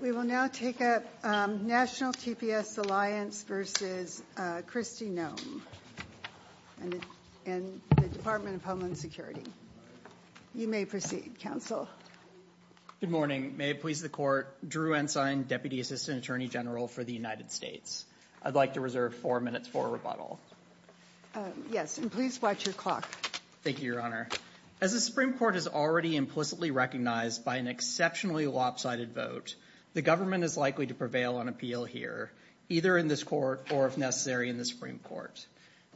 We will now take up National TPS Alliance v. Christy Noem in the Department of Homeland Security. You may proceed, Counsel. Good morning. May it please the Court, Drew Ensign, Deputy Assistant Attorney General for the United States. I'd like to reserve four minutes for rebuttal. Yes, and please watch your clock. Thank you, Your Honor. As the Supreme Court has already implicitly recognized by an exceptionally lopsided vote, the government is likely to prevail on appeal here, either in this court or, if necessary, in the Supreme Court.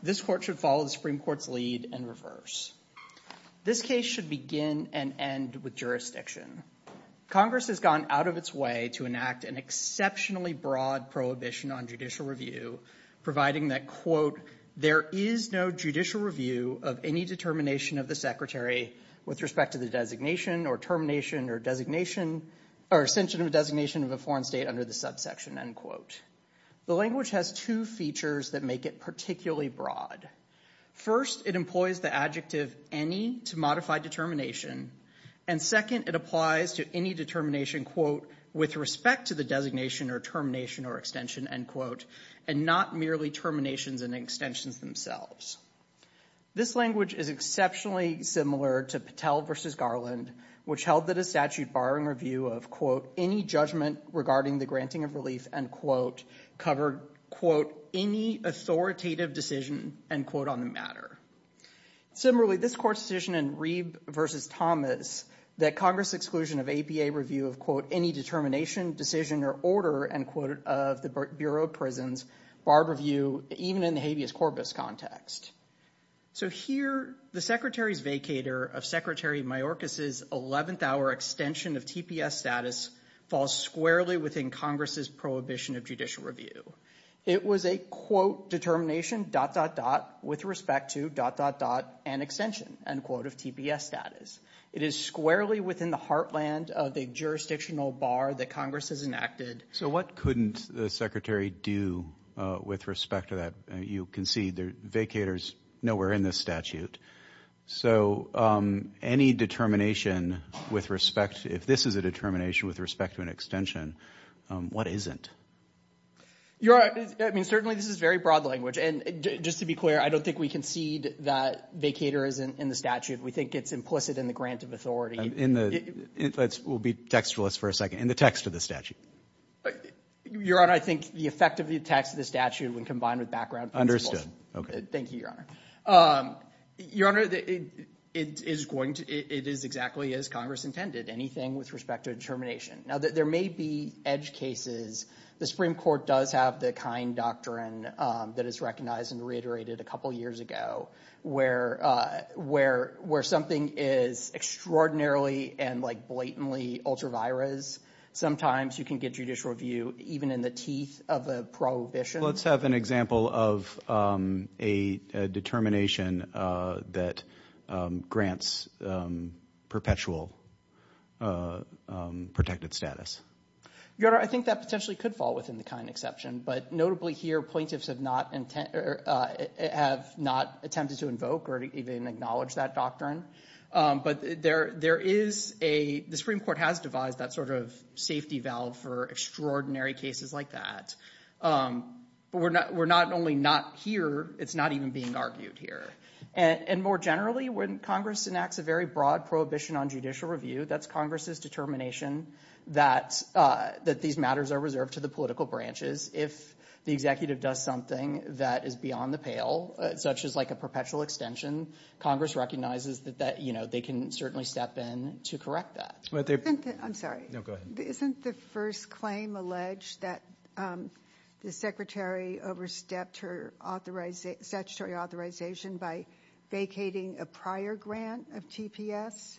This court should follow the Supreme Court's lead and reverse. This case should begin and end with jurisdiction. Congress has gone out of its way to enact an exceptionally broad prohibition on judicial review, providing that, quote, there is no judicial review of any determination of the Secretary with respect to the designation or termination or designation or extension of a designation of a foreign state under the subsection, end quote. The language has two features that make it particularly broad. First, it employs the adjective any to modify determination, and second, it applies to any determination, quote, with respect to the designation or termination or extension, end quote, and not merely terminations and extensions themselves. This language is exceptionally similar to Patel v. Garland, which held that a statute barring review of, quote, any judgment regarding the of relief, end quote, covered, quote, any authoritative decision, end quote, on the matter. Similarly, this court's decision in Reeb v. Thomas that Congress's exclusion of APA review of, quote, any determination, decision, or order, end quote, of the Bureau of Prisons barred review even in the habeas corpus context. So here, the Secretary's vacator of Secretary Mayorkas' 11th hour extension of TPS status falls squarely within Congress's prohibition of judicial review. It was a, quote, determination, dot, dot, dot, with respect to, dot, dot, dot, and extension, end quote, of TPS status. It is squarely within the heartland of the jurisdictional bar that Congress has enacted. So what couldn't the Secretary do with respect to that? You can see the vacators nowhere in this statute. So any determination with respect, if this is a determination with respect to an extension, what isn't? Your Honor, I mean, certainly this is very broad language. And just to be clear, I don't think we concede that vacator isn't in the statute. We think it's implicit in the grant of authority. In the, let's, we'll be textualist for a second. In the text of the statute? Your Honor, I think the effect of the text of the statute when combined with background principles. Understood. Okay. Thank you, Your Honor. Your Honor, it is going to, it is exactly as Congress intended. Anything with respect to determination. Now, there may be edge cases. The Supreme Court does have the kind doctrine that is recognized and reiterated a couple years ago where, where, where something is extraordinarily and like blatantly ultra-virus. Sometimes you can get judicial review even in the teeth of a prohibition. Let's have an example of a determination that grants perpetual protected status. Your Honor, I think that potentially could fall within the kind exception. But notably here, plaintiffs have not, have not attempted to invoke or even acknowledge that doctrine. But there, there is a, the Supreme Court has devised that sort of safety valve for extraordinary cases like that. But we're not, we're not only not here, it's not even being argued here. And, and more generally, when Congress enacts a very broad prohibition on judicial review, that's Congress's determination that, that these matters are reserved to the political branches. If the executive does something that is beyond the pale, such as like a perpetual extension, Congress recognizes that, that, you know, they can certainly step in to correct that. Isn't the, I'm sorry. No, go ahead. Isn't the first claim alleged that the Secretary overstepped her authorization, statutory authorization by vacating a prior grant of TPS?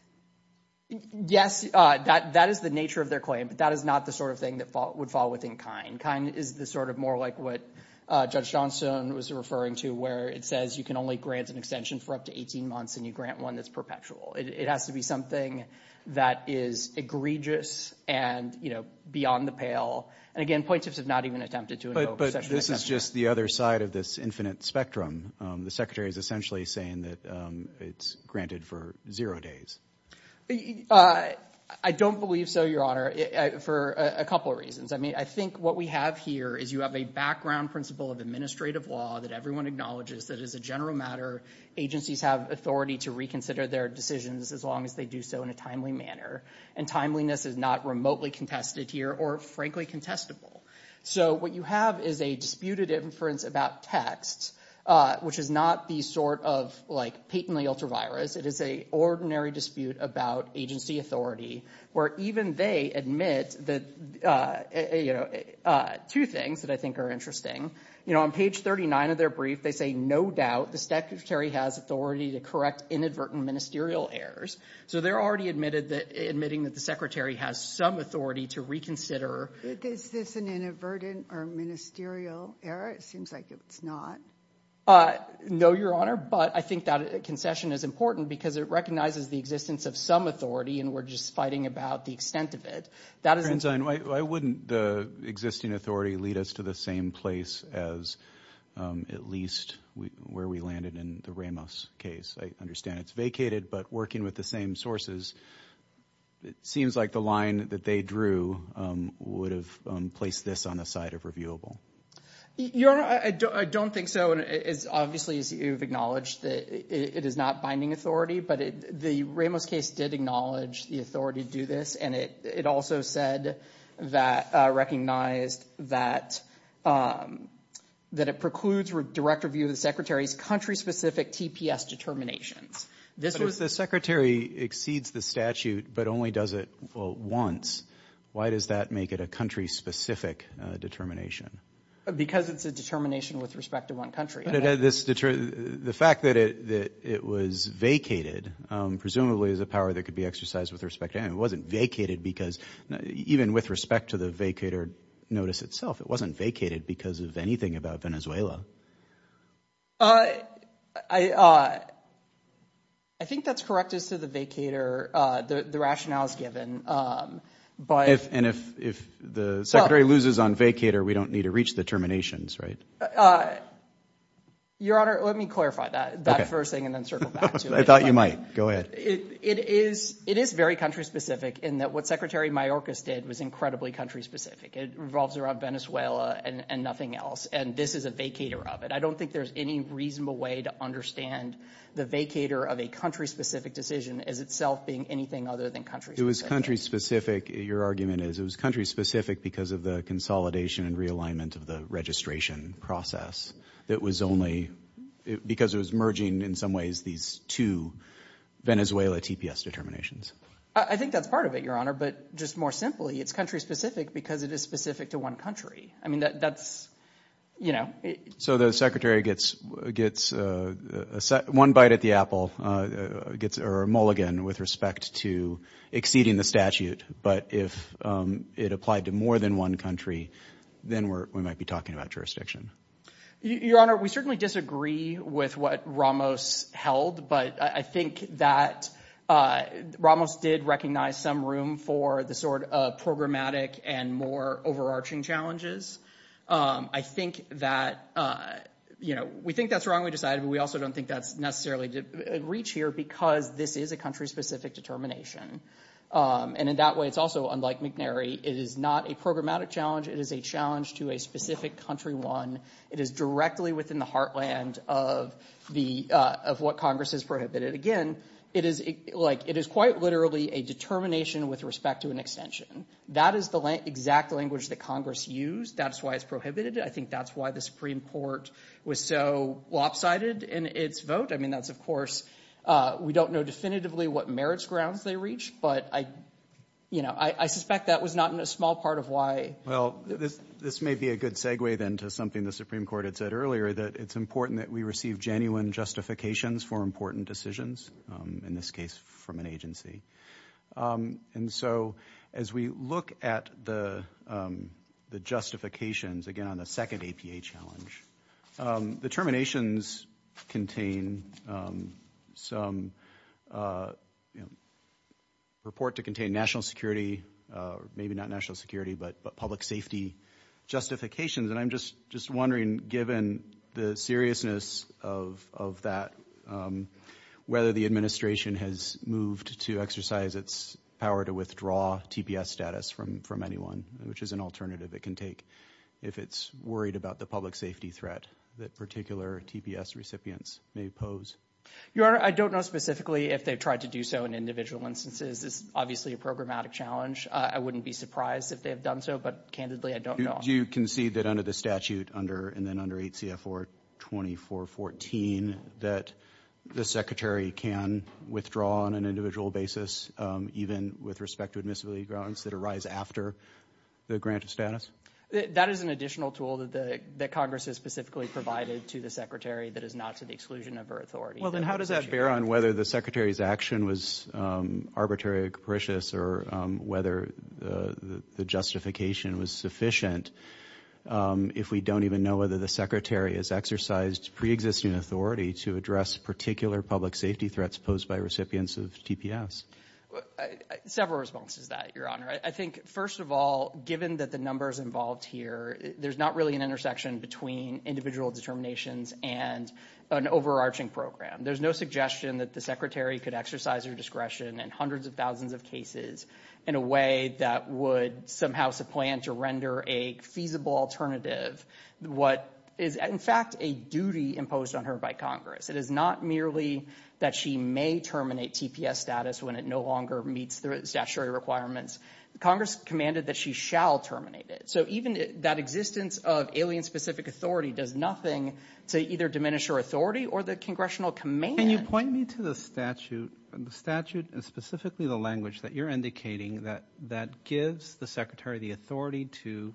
Yes, that, that is the nature of their claim. But that is not the sort of thing that would fall within kind. Kind is the sort of more like what Judge Johnstone was referring to, where it says you can only grant an extension for up to 18 months and you grant one that's perpetual. It has to be something that is egregious and, you know, beyond the pale. And again, plaintiffs have not even attempted to invoke such an extension. But, but this is just the other side of this infinite spectrum. The Secretary is essentially saying that it's granted for zero days. I don't believe so, Your Honor, for a couple of reasons. I mean, I think what we have here is you have a background principle of administrative law that everyone acknowledges that as a general matter, agencies have authority to reconsider their decisions as long as they do so in a timely manner. And timeliness is not remotely contested here or, frankly, contestable. So what you have is a disputed inference about text, which is not the sort of like patently ultra-virus. It is a ordinary dispute about agency authority, where even they admit that, you know, two things that I think are interesting. You know, on page 39 of their brief, they say, no doubt the Secretary has authority to correct inadvertent ministerial errors. So they're already admitted that, admitting that the Secretary has some authority to reconsider. Is this an inadvertent or ministerial error? It seems like it's not. No, Your Honor, but I think that concession is important because it recognizes the existence of some authority and we're just fighting about the extent of it. I wouldn't the existing authority lead us to the same place as at least where we landed in the Ramos case. I understand it's vacated, but working with the same sources, it seems like the line that they drew would have placed this on the side of reviewable. Your Honor, I don't think so. Obviously, you've acknowledged that it is not binding authority, but the Ramos case did acknowledge the authority to do this and it also said that, recognized that it precludes direct review of the Secretary's country-specific TPS determinations. But if the Secretary exceeds the statute but only does it, well, once, why does that make it a country-specific determination? Because it's a determination with respect to one country. The fact that it was vacated presumably is a power that could be exercised with respect to anyone. It wasn't vacated because, even with respect to the vacator notice itself, it wasn't vacated because of anything about Venezuela. I think that's correct as to the vacator, the rationales given. And if the Secretary loses on vacator, we don't need to reach the terminations, right? Your Honor, let me clarify that first thing and then circle back to it. I thought you might. Go ahead. It is very country-specific in that what Secretary Mayorkas did was incredibly country-specific. It revolves around Venezuela and nothing else, and this is a vacator of it. I don't think there's any reasonable way to understand the vacator of a country-specific decision as itself being anything other than country-specific. It was country-specific, your argument is. It was country-specific because of the consolidation and realignment of the process because it was merging, in some ways, these two Venezuela TPS determinations. I think that's part of it, your Honor, but just more simply, it's country-specific because it is specific to one country. So the Secretary gets one bite at the apple or a mulligan with respect to exceeding the statute, but if it applied to more than one country, then we might be talking about jurisdiction. Your Honor, we certainly disagree with what Ramos held, but I think that Ramos did recognize some room for the sort of programmatic and more overarching challenges. I think that, you know, we think that's wrong, we decided, but we also don't think that's necessarily a reach here because this is a country-specific determination. And in that way, it's also, unlike McNary, it is not a programmatic challenge. It is a challenge to a specific country one. It is directly within the heartland of what Congress has prohibited. Again, it is quite literally a determination with respect to an extension. That is the exact language that Congress used. That's why it's prohibited. I think that's why the Supreme Court was so lopsided in its vote. I mean, that's, of course, we don't know definitively what merits grounds they reach, but I suspect that was not a small part of why. Well, this may be a good segue, then, to something the Supreme Court had said earlier, that it's important that we receive genuine justifications for important decisions, in this case, from an agency. And so, as we look at the justifications, again, on the second APA challenge, the terminations contain some report to contain national security, maybe not national security, but public safety justifications. And I'm just wondering, given the seriousness of that, whether the administration has moved to exercise its power to withdraw TPS status from anyone, which is an alternative it can take, if it's worried about the public safety threat that particular TPS recipients may pose. Your Honor, I don't know specifically if they've tried to do so in individual instances. It's obviously a programmatic challenge. I wouldn't be surprised if they have done so, but candidly, I don't know. Do you concede that under the statute, and then under 8 CFR 2414, that the Secretary can withdraw on an individual basis, even with respect to admissibility grounds that arise after the grant of status? That is an additional tool that Congress has specifically provided to the Secretary that is not to the exclusion of her authority. Then how does that bear on whether the Secretary's action was arbitrary or capricious or whether the justification was sufficient if we don't even know whether the Secretary has exercised preexisting authority to address particular public safety threats posed by recipients of TPS? Several responses to that, Your Honor. I think, first of all, given that the numbers involved here, there's not really an intersection between individual determinations and an overarching program. There's no suggestion that the Secretary could exercise her discretion in hundreds of thousands of cases in a way that would somehow supplant or render a feasible alternative. What is, in fact, a duty imposed on her by Congress, it is not merely that she may terminate TPS status when it no longer meets the statutory requirements. Congress commanded that she shall terminate it. So even that existence of alien-specific authority does nothing to either diminish her authority or the congressional command. Can you point me to the statute and specifically the language that you're indicating that gives the Secretary the authority to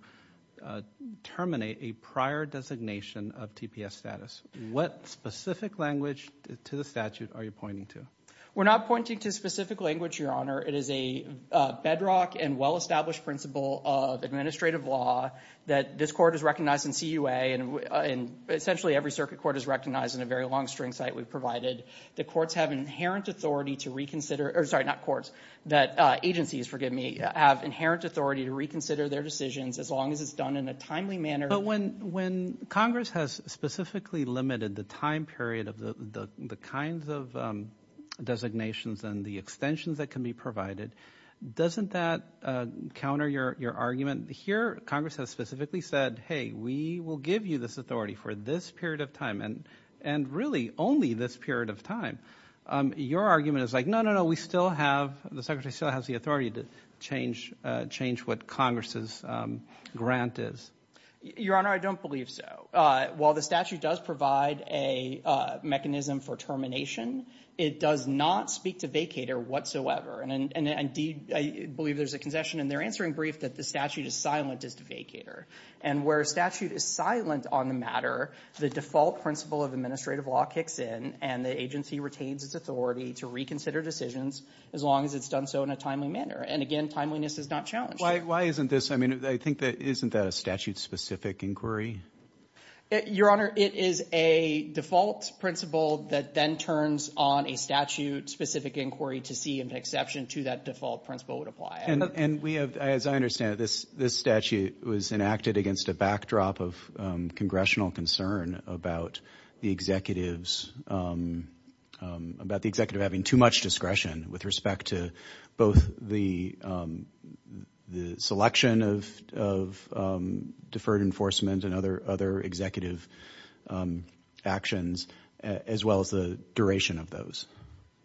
terminate a prior designation of TPS status? What specific language to the statute are you pointing to? We're not pointing to specific language, Your Honor. It is a bedrock and well-established principle of administrative law that this court is recognized in CUA and essentially every circuit court is recognized in a very long string site we've provided. The courts have inherent authority to reconsider, or sorry, not courts, that agencies, forgive me, have inherent authority to reconsider their decisions as long as it's done in a timely manner. But when Congress has specifically limited the time period of the kinds of designations and the extensions that can be provided, doesn't that counter your argument? Here, Congress has specifically said, hey, we will give you this authority for this period of time and really only this period of time. Your argument is like, no, no, no, we still have, the Secretary still has the authority to change what Congress's grant is. Your Honor, I don't believe so. While the statute does provide a mechanism for termination, it does not speak to vacator whatsoever. And indeed, I believe there's a concession in their answering brief that the statute is silent as to vacator. And where a statute is silent on the matter, the default principle of administrative law kicks in and the agency retains its authority to reconsider decisions as long as it's done so in a timely manner. And again, timeliness is not challenged. Why isn't this, I mean, I think that, isn't that a statute-specific inquiry? Your Honor, it is a default principle that then turns on a statute-specific inquiry to see if an exception to that default principle would apply. And we have, as I understand it, this statute was enacted against a backdrop of congressional concern about the executives, about the executive having too much discretion with respect to both the selection of deferred enforcement and other executive actions, as well as the duration of those.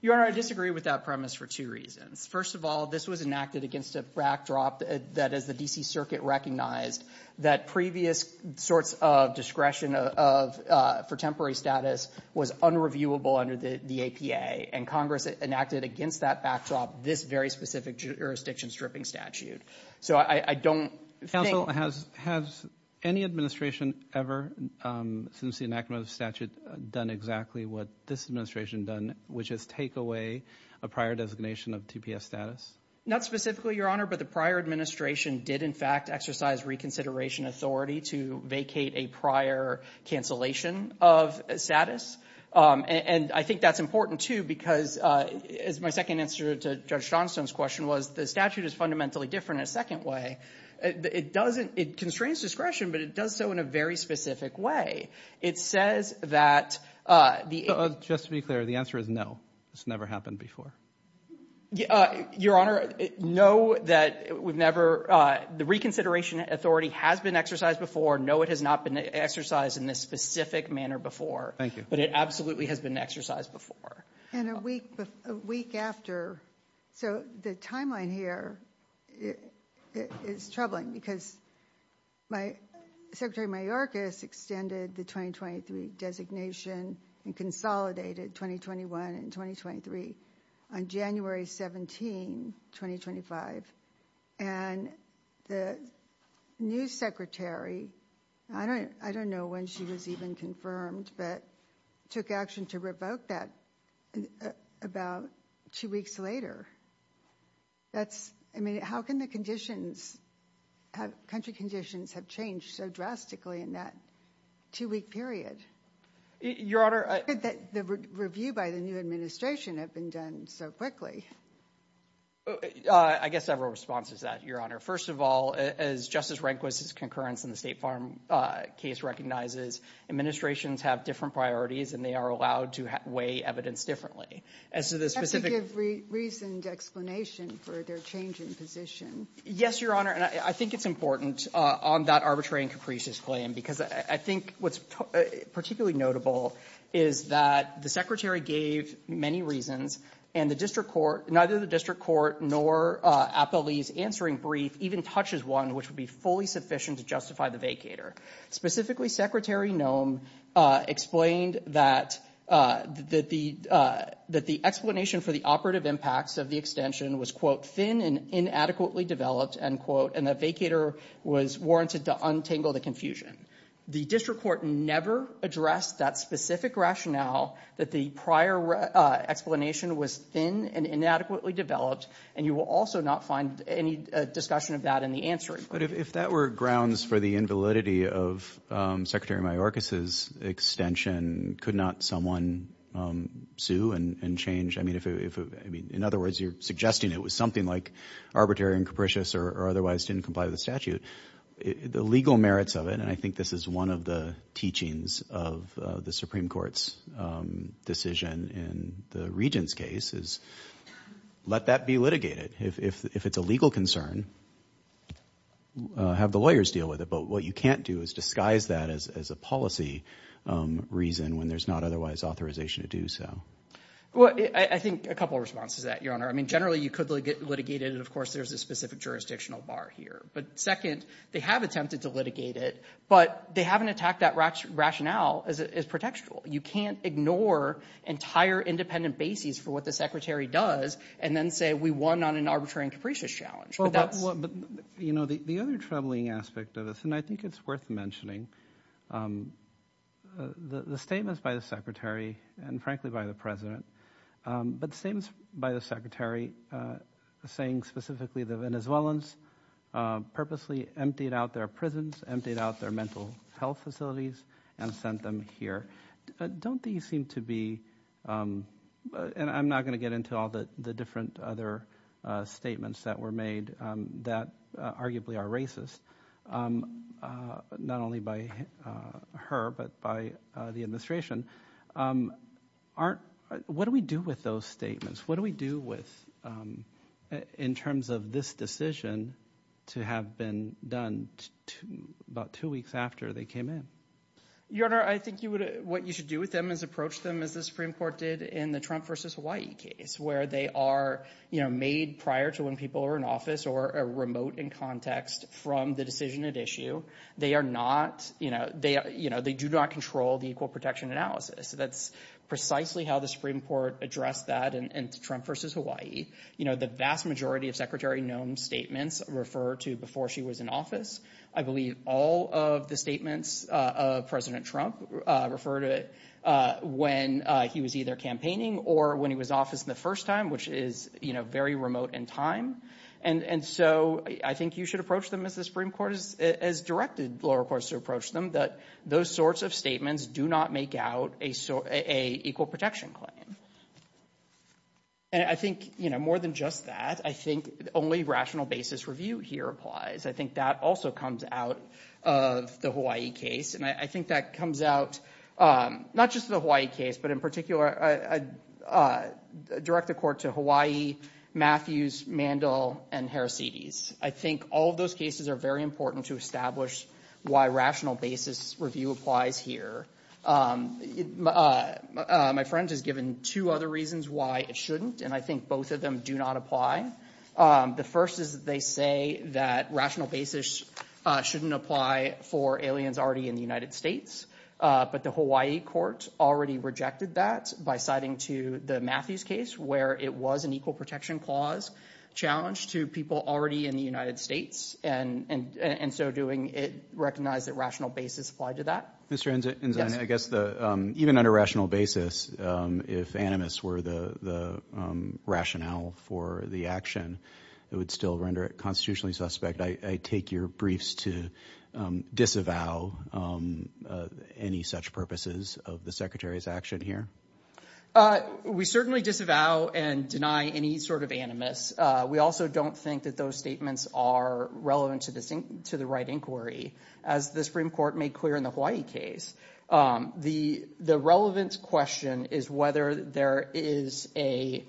Your Honor, I disagree with that premise for two reasons. First of all, this was enacted against a backdrop that, as the D.C. Circuit recognized, that previous sorts of discretion for temporary status was unreviewable under the APA. And Congress enacted against that backdrop this very specific jurisdiction-stripping statute. So I don't think- Counsel, has any administration ever, since the enactment of the statute, done exactly what this administration done, which is take away a prior designation of TPS status? Not specifically, Your Honor, but the prior administration did, in fact, exercise reconsideration authority to vacate a prior cancellation of status. And I think that's important, too, because, as my second answer to Judge Johnstone's question was, the statute is fundamentally different in a second way. It doesn't, it constrains discretion, but it does so in a very specific way. It says that the- Just to be clear, the answer is no. This never happened before. Your Honor, no, that we've never, the reconsideration authority has been exercised before. No, it has not been exercised in this specific manner before. Thank you. But it absolutely has been exercised before. And a week after, so the timeline here is troubling because my, Secretary Mayorkas extended the 2023 designation and consolidated 2021 and 2023 on January 17, 2025, and the new secretary, I don't know when she was even confirmed, but took action to revoke that about two weeks later. That's, I mean, how can the conditions, country conditions have changed so drastically in that two-week period? Your Honor- How could the review by the new administration have been done so quickly? I guess several responses to that, Your Honor. First of all, as Justice Rehnquist's concurrence in the State Farm case recognizes, administrations have different priorities and they are allowed to weigh evidence differently. As to the specific- Explanation for their changing position. Yes, Your Honor. And I think it's important on that arbitrary and capricious claim, because I think what's particularly notable is that the secretary gave many reasons and the district court, neither the district court nor Applebee's answering brief even touches one which would be fully sufficient to justify the vacator. Specifically, Secretary Nome explained that the explanation for the operative impacts of the extension was, quote, thin and inadequately developed, end quote, and the vacator was warranted to untangle the confusion. The district court never addressed that specific rationale that the prior explanation was thin and inadequately developed, and you will also not find any discussion of that in the answering brief. But if that were grounds for the invalidity of Secretary Mayorkas's extension, could not someone sue and change? I mean, in other words, you're suggesting it was something like arbitrary and capricious or otherwise didn't comply with the statute. The legal merits of it, and I think this is one of the teachings of the Supreme Court's decision in the Regent's case, is let that be litigated. If it's a legal concern, have the lawyers deal with it. But what you can't do is disguise that as a policy reason when there's not otherwise authorization to do so. Well, I think a couple of responses to that, Your Honor. I mean, generally, you could litigate it, and of course, there's a specific jurisdictional bar here. But second, they have attempted to litigate it, but they haven't attacked that rationale as protectional. You can't ignore entire independent bases for what the Secretary does and then say we won on an arbitrary and capricious challenge. Well, but, you know, the other troubling aspect of this, and I think it's worth mentioning, the statements by the Secretary and, frankly, by the President, but the statements by the Secretary saying specifically the Venezuelans purposely emptied out their prisons, emptied out their mental health facilities, and sent them here. Don't these seem to be, and I'm not going to get into all the different other statements that were her, but by the administration, aren't, what do we do with those statements? What do we do with, in terms of this decision to have been done about two weeks after they came in? Your Honor, I think you would, what you should do with them is approach them as the Supreme Court did in the Trump versus Hawaii case, where they are, you know, made prior to when people are in or a remote in context from the decision at issue. They are not, you know, they do not control the equal protection analysis. That's precisely how the Supreme Court addressed that in Trump versus Hawaii. You know, the vast majority of Secretary Nome's statements refer to before she was in office. I believe all of the statements of President Trump refer to when he was either campaigning or when he was in office the first time, which is, you know, very remote in time. And so, I think you should approach them as the Supreme Court has directed lower courts to approach them, that those sorts of statements do not make out a equal protection claim. And I think, you know, more than just that, I think only rational basis review here applies. I think that also comes out of the Hawaii case, and I think that comes out, not just the Hawaii case, but in particular, direct the court to Hawaii, Matthews, Mandel, and Heracides. I think all of those cases are very important to establish why rational basis review applies here. My friend has given two other reasons why it shouldn't, and I think both of them do not apply. The first is that they say that rational basis shouldn't apply for aliens already in the United States, but the Hawaii court already rejected that by citing to the Matthews case where it was an equal protection clause challenge to people already in the United States, and so doing it, recognize that rational basis applied to that. Mr. Enzina, I guess even under rational basis, if animus were the rationale for the action, it would still render it constitutionally suspect. I take your briefs to disavow any such purposes of the secretary's action here. We certainly disavow and deny any sort of animus. We also don't think that those statements are relevant to the right inquiry, as the Supreme Court made clear in the Hawaii case. The relevance question is whether there is a,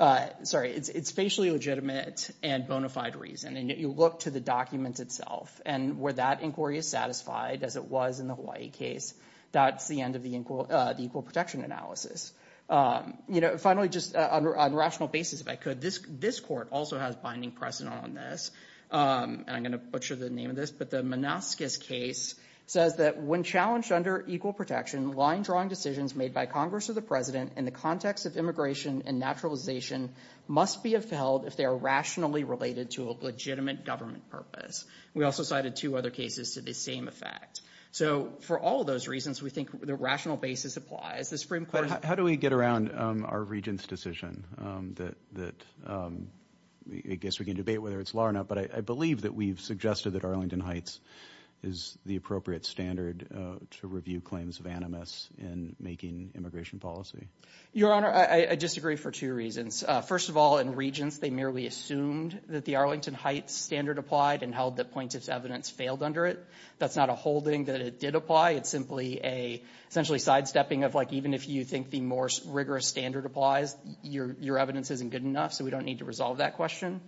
sorry, it's facially legitimate and bona fide reason, and you look to the document itself, and where that inquiry is satisfied, as it was in the Hawaii case, that's the end of the equal protection analysis. Finally, just on rational basis, if I could, this court also has binding precedent on this, and I'm going to butcher the name of this, but the Manascus case says that when challenged under equal protection, line-drawing decisions made by Congress or the president in the context of immigration and naturalization must be upheld if they are other cases to the same effect. So for all of those reasons, we think the rational basis applies. How do we get around our regent's decision? I guess we can debate whether it's law or not, but I believe that we've suggested that Arlington Heights is the appropriate standard to review claims of animus in making immigration policy. Your Honor, I disagree for two reasons. First of all, in Regents, they merely assumed that the evidence failed under it. That's not a holding that it did apply. It's simply a, essentially, sidestepping of, like, even if you think the more rigorous standard applies, your evidence isn't good enough, so we don't need to resolve that question.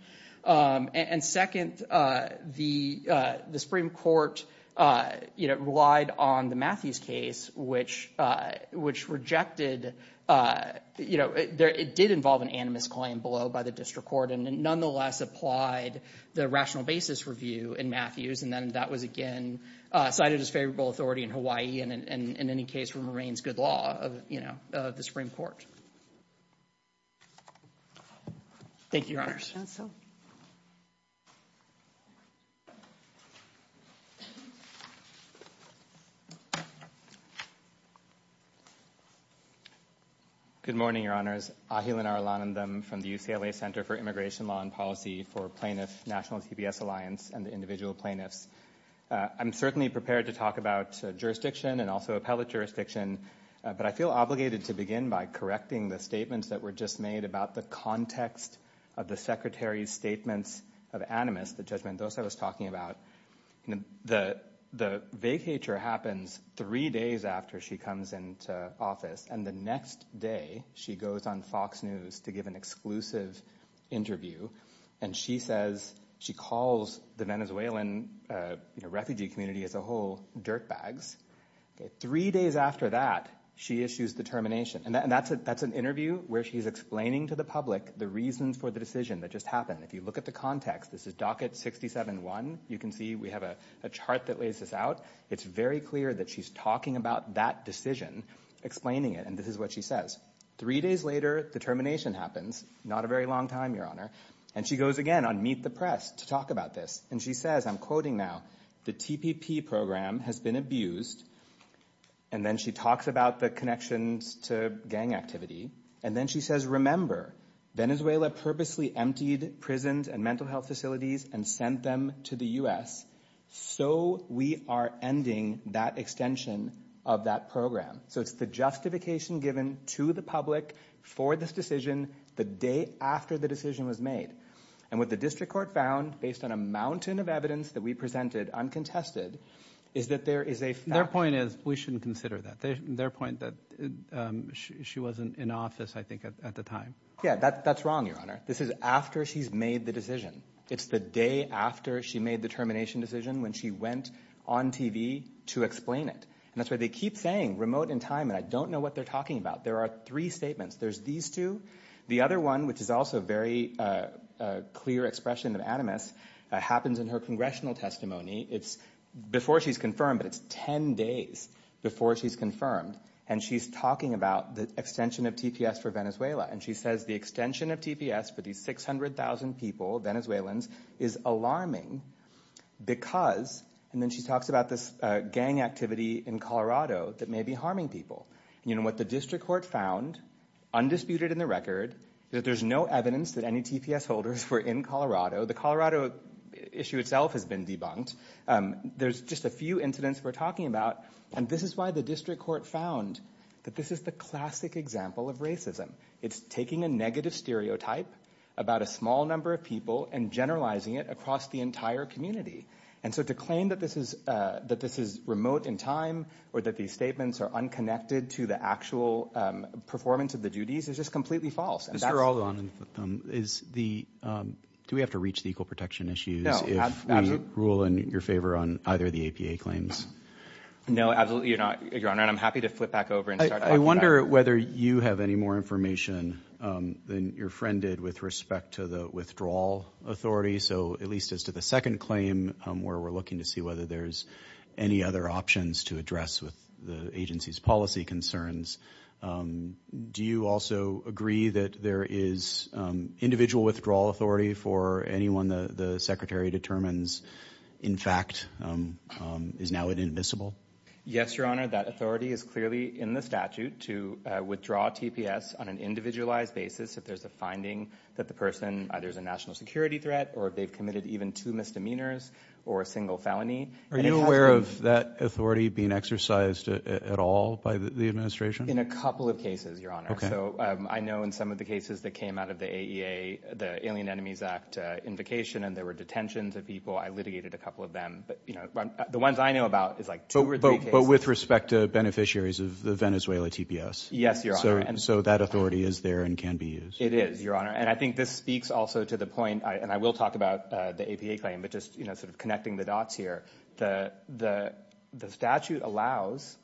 And second, the Supreme Court, you know, relied on the Matthews case, which rejected, you know, it did involve an animus claim below by district court and nonetheless applied the rational basis review in Matthews, and then that was again cited as favorable authority in Hawaii and in any case remains good law of, you know, the Supreme Court. Thank you, Your Honors. Good morning, Your Honors. Ahilanar Alanandam from the UCLA Center for Immigration Law and Policy for Plaintiff National TPS Alliance and the Individual Plaintiffs. I'm certainly prepared to talk about jurisdiction and also appellate jurisdiction, but I feel obligated to begin by correcting the statements that were just made about the context of the Secretary's statements of animus, the judgment, those I was talking about. The vacatur happens three days after she comes into office, and the next day she goes on Fox News to give an exclusive interview, and she says, she calls the Venezuelan, you know, refugee community as a whole, dirtbags. Three days after that, she issues the termination, and that's an interview where she's explaining to the public the reasons for the decision that just happened. If you look at the context, this is docket 67-1, you can see we have a chart that lays this out. It's very clear that she's talking about that decision, explaining it, and this is what she says. Three days later, the termination happens, not a very long time, Your Honor, and she goes again on Meet the Press to talk about this, and she says, I'm quoting now, the TPP program has been abused, and then she talks about the connections to gang activity, and then she says, remember, Venezuela purposely emptied prisons and mental health facilities and sent them to the U.S., so we are ending that extension of that program. So it's the justification given to the public for this decision the day after the decision was made, and what the evidence that we presented, uncontested, is that there is a fact. Their point is we shouldn't consider that. Their point that she wasn't in office, I think, at the time. Yeah, that's wrong, Your Honor. This is after she's made the decision. It's the day after she made the termination decision when she went on TV to explain it, and that's why they keep saying, remote in time, and I don't know what they're talking about. There are three statements. There's these two. The other one, which is also a very clear expression of animus, happens in her congressional testimony. It's before she's confirmed, but it's 10 days before she's confirmed, and she's talking about the extension of TPS for Venezuela, and she says the extension of TPS for these 600,000 people, Venezuelans, is alarming because, and then she talks about this gang activity in Colorado that may be harming people. What the district court found, undisputed in the record, that there's no evidence that any TPS holders were in Colorado. The Colorado issue itself has been debunked. There's just a few incidents we're talking about, and this is why the district court found that this is the classic example of racism. It's taking a negative stereotype about a small number of people and generalizing it across the entire community, and so to claim that this is remote in time or that these statements are unconnected to the actual performance of the duties is just completely false. Mr. Aldon, do we have to reach the equal protection issues if we rule in your favor on either of the APA claims? No, absolutely not, Your Honor, and I'm happy to flip back over and start talking about it. I wonder whether you have any more information than your friend did with respect to the withdrawal authority, so at least as to the second claim, where we're looking to see whether there's any other options to address with the agency's policy concerns. Do you also agree that there is individual withdrawal authority for anyone the Secretary determines, in fact, is now inadmissible? Yes, Your Honor, that authority is clearly in the statute to withdraw TPS on an individualized basis if there's a finding that the person, either is a national security threat or if they've committed even two misdemeanors or a single felony. Are you aware of that authority being exercised at all by the administration? In a couple of cases, Your Honor, so I know in some of the cases that came out of the AEA, the Alien Enemies Act invocation and there were detentions of people, I litigated a couple of them, but you know, the ones I know about is like two or three cases. But with respect to beneficiaries of the Venezuela TPS? Yes, Your Honor. So that authority is there and can be used? It is, Your Honor. And I think this speaks also to the point, and I will talk about the APA claim, but just, you know, sort of connecting the dots here. The statute allows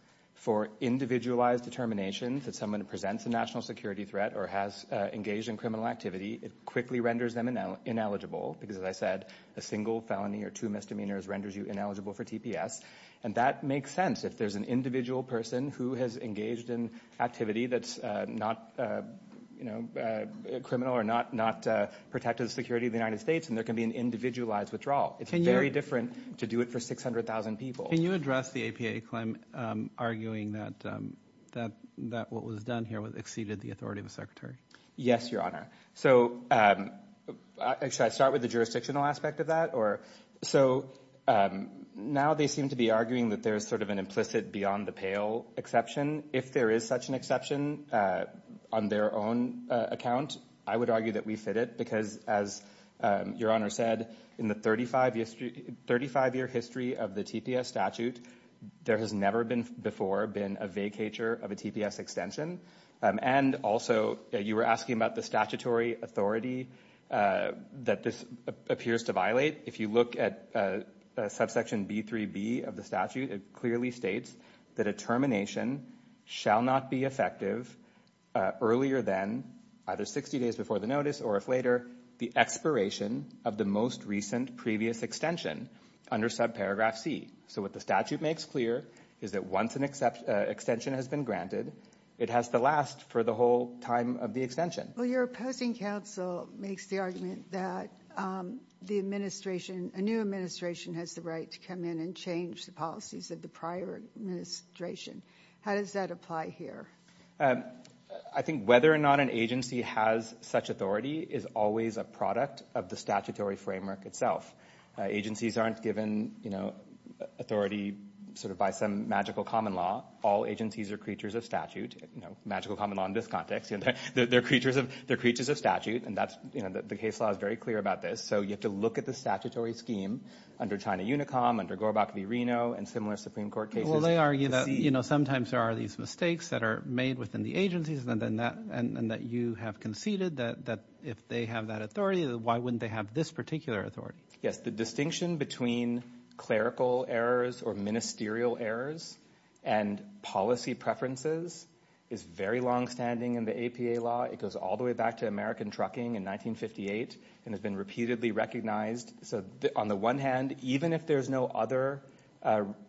for individualized determination that someone presents a national security threat or has engaged in criminal activity. It quickly renders them ineligible because, as I said, a single felony or two misdemeanors renders you ineligible for TPS. And that makes sense if there's an individual person who has engaged in activity that's not, you know, criminal or not protected the security of the United States, and there can be an individualized withdrawal. It's very different to do it for 600,000 people. Can you address the APA claim, arguing that what was done here exceeded the authority of the Secretary? Yes, Your Honor. So should I start with the jurisdictional aspect of that? So now they seem to be arguing that there's sort of an implicit beyond the pale exception. If there is such an exception on their own account, I would argue that we fit it because, as Your Honor said, in the 35-year history of the TPS statute, there has never been before been a vacatur of a TPS extension. And also, you were asking about the statutory authority that this appears to violate. If you look at subsection B3b of the statute, it clearly states that a termination shall not be effective earlier than either 60 days before the notice or if later the expiration of the most recent previous extension under subparagraph C. So what the statute makes clear is that once an extension has been granted, it has to last for the whole time of the extension. Well, your opposing counsel makes the argument that the administration, a new administration. How does that apply here? I think whether or not an agency has such authority is always a product of the statutory framework itself. Agencies aren't given authority sort of by some magical common law. All agencies are creatures of statute, magical common law in this context. They're creatures of statute, and the case law is very clear about this. So you have to look at the statutory scheme under China Unicom, under Gorbach v. Reno, and similar Supreme Court cases. Well, they argue that sometimes there are these mistakes that are made within the agencies and that you have conceded that if they have that authority, why wouldn't they have this particular authority? Yes, the distinction between clerical errors or ministerial errors and policy preferences is very long-standing in the APA law. It goes all the way back to American trucking in 1958 and has been repeatedly recognized. So on the one hand, even if there's no other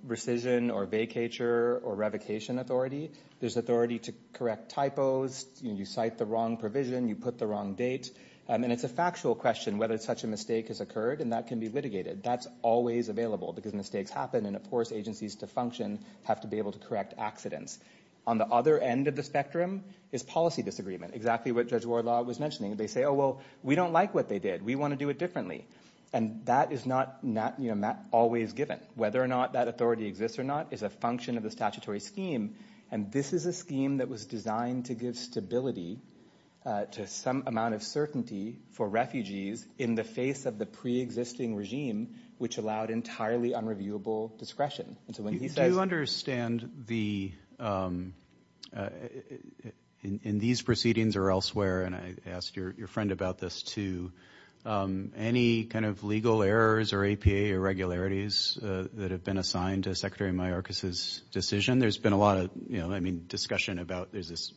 rescission or vacatur or revocation authority, there's authority to correct typos, you cite the wrong provision, you put the wrong date, and it's a factual question whether such a mistake has occurred, and that can be litigated. That's always available because mistakes happen, and of course, agencies to function have to be able to correct accidents. On the other end of the spectrum is policy disagreement, exactly what Judge Wardlaw was mentioning. They say, oh, well, we don't like what they did. We want to do it differently, and that is not always given. Whether or not that authority exists or not is a function of the statutory scheme, and this is a scheme that was designed to give stability to some amount of certainty for refugees in the face of the pre-existing regime, which allowed entirely unreviewable discretion. And so when he says... I don't understand in these proceedings or elsewhere, and I asked your friend about this too, any kind of legal errors or APA irregularities that have been assigned to Secretary Mayorkas's decision. There's been a lot of discussion about, there's this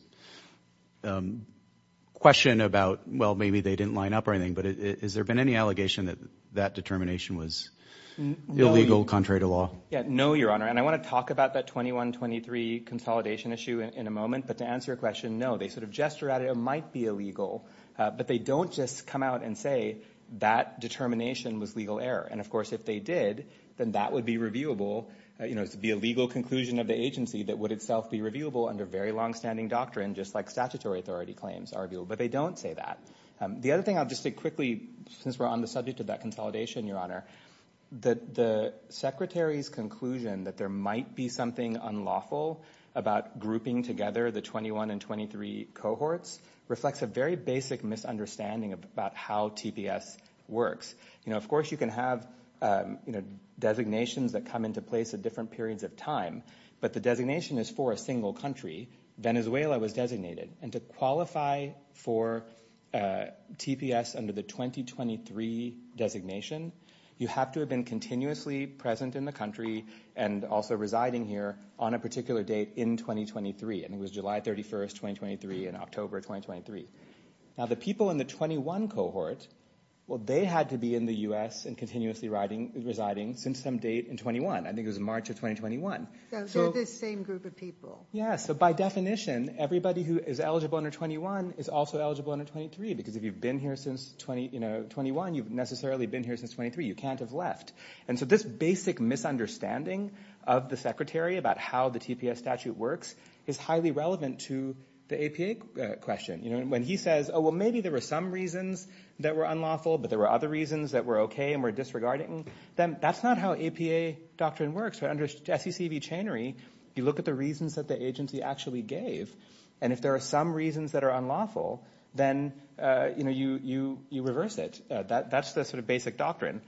question about, well, maybe they didn't line up or anything, but has there been any allegation that determination was illegal contrary to law? No, Your Honor, and I want to talk about that 21-23 consolidation issue in a moment, but to answer your question, no. They sort of gesture at it, it might be illegal, but they don't just come out and say that determination was legal error, and of course, if they did, then that would be reviewable. It would be a legal conclusion of the agency that would itself be reviewable under very long-standing doctrine, just like statutory authority claims are reviewable, but they don't say that. The other thing I'll just say quickly, since we're on the subject of that consolidation, Your Honor, the Secretary's conclusion that there might be something unlawful about grouping together the 21 and 23 cohorts reflects a very basic misunderstanding about how TPS works. Of course, you can have designations that come into place at different periods of time, but the designation is for a single country. Venezuela was designated, and to qualify for TPS under the 20-23 designation, you have to have been continuously present in the country and also residing here on a particular date in 20-23, and it was July 31st, 20-23 and October 20-23. Now, the people in the 21 cohort, well, they had to be in the U.S. and continuously residing since some date in 21. I think it was March of 20-21. They're this same group of people. Yes, so by definition, everybody who is eligible under 21 is also eligible under 23, because if you've been here since 21, you've necessarily been here since 23. You can't have left, and so this basic misunderstanding of the Secretary about how the TPS statute works is highly relevant to the APA question. When he says, oh, well, maybe there were some reasons that were unlawful, but there were other reasons that were okay and were You look at the reasons that the agency actually gave, and if there are some reasons that are unlawful, then, you know, you reverse it. That's the sort of basic doctrine.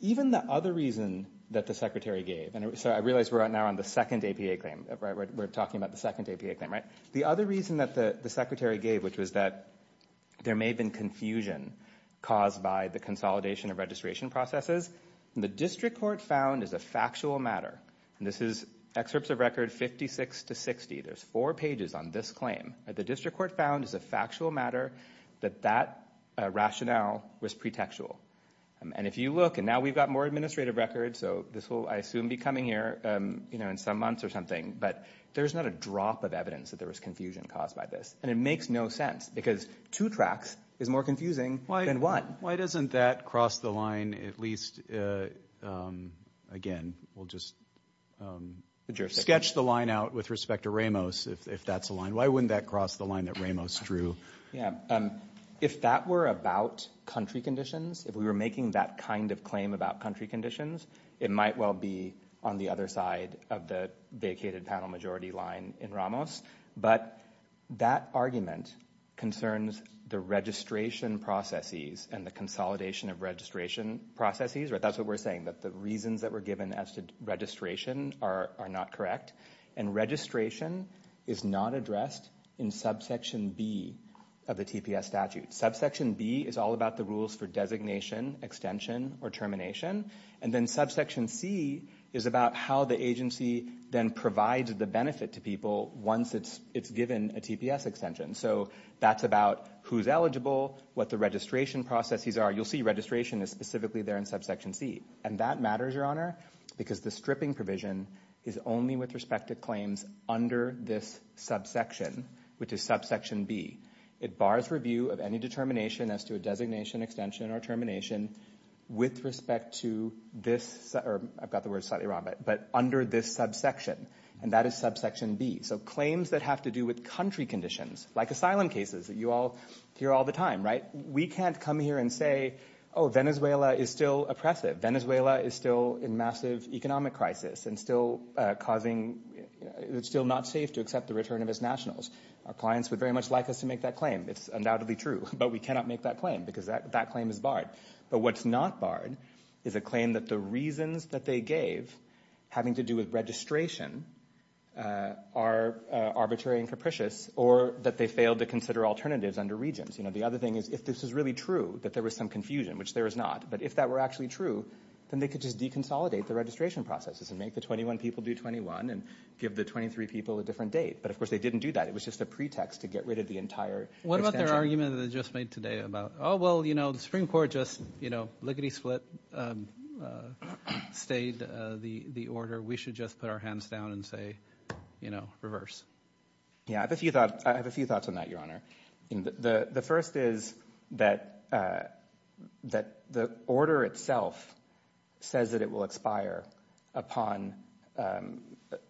Even the other reason that the Secretary gave, and so I realize we're right now on the second APA claim, right? We're talking about the second APA claim, right? The other reason that the Secretary gave, which was that there may have been confusion caused by the consolidation of registration processes, the district court found as a factual matter, and this is excerpts of record 56 to 60. There's four pages on this claim. The district court found as a factual matter that that rationale was pretextual, and if you look, and now we've got more administrative records, so this will, I assume, be coming here, you know, in some months or something, but there's not a drop of evidence that there was confusion caused by this, and it makes no sense, because two tracks is more than enough evidence that there was confusion caused. Again, we'll just sketch the line out with respect to Ramos, if that's the line. Why wouldn't that cross the line that Ramos drew? Yeah, if that were about country conditions, if we were making that kind of claim about country conditions, it might well be on the other side of the vacated panel majority line in Ramos, but that argument concerns the registration processes and the consolidation of registration processes. That's what we're saying, that the reasons that were given as to registration are not correct, and registration is not addressed in subsection B of the TPS statute. Subsection B is all about the rules for designation, extension, or termination, and then subsection C is about how the agency then provides the benefit to people once it's given a TPS extension. So that's about who's eligible, what the registration processes are. You'll see registration is specifically there in subsection C, and that matters, Your Honor, because the stripping provision is only with respect to claims under this subsection, which is subsection B. It bars review of any determination as to a designation, extension, or termination with respect to this, or I've got the word slightly wrong, but under this subsection, and that is subsection B. So claims that have to do with country conditions, like asylum cases that you all hear all the time, right? We can't come here and say, oh, Venezuela is still oppressive. Venezuela is still in massive economic crisis and still causing, it's still not safe to accept the return of its nationals. Our clients would very much like us to make that claim. It's undoubtedly true, but we cannot make that claim because that that claim is barred. But what's not barred is a claim that the reasons that they gave having to do with registration are arbitrary and capricious, or that they failed to consider alternatives under regions. You know, the other thing is, if this is really true, that there was some confusion, which there is not, but if that were actually true, then they could just deconsolidate the registration processes and make the 21 people do 21 and give the 23 people a different date. But of course, they didn't do that. It was just a pretext to get rid of the entire extension. What about their argument that they just made today about, oh, well, you know, the Supreme Court case split stayed the order, we should just put our hands down and say, you know, reverse? Yeah, I have a few thoughts on that, Your Honor. The first is that the order itself says that it will expire upon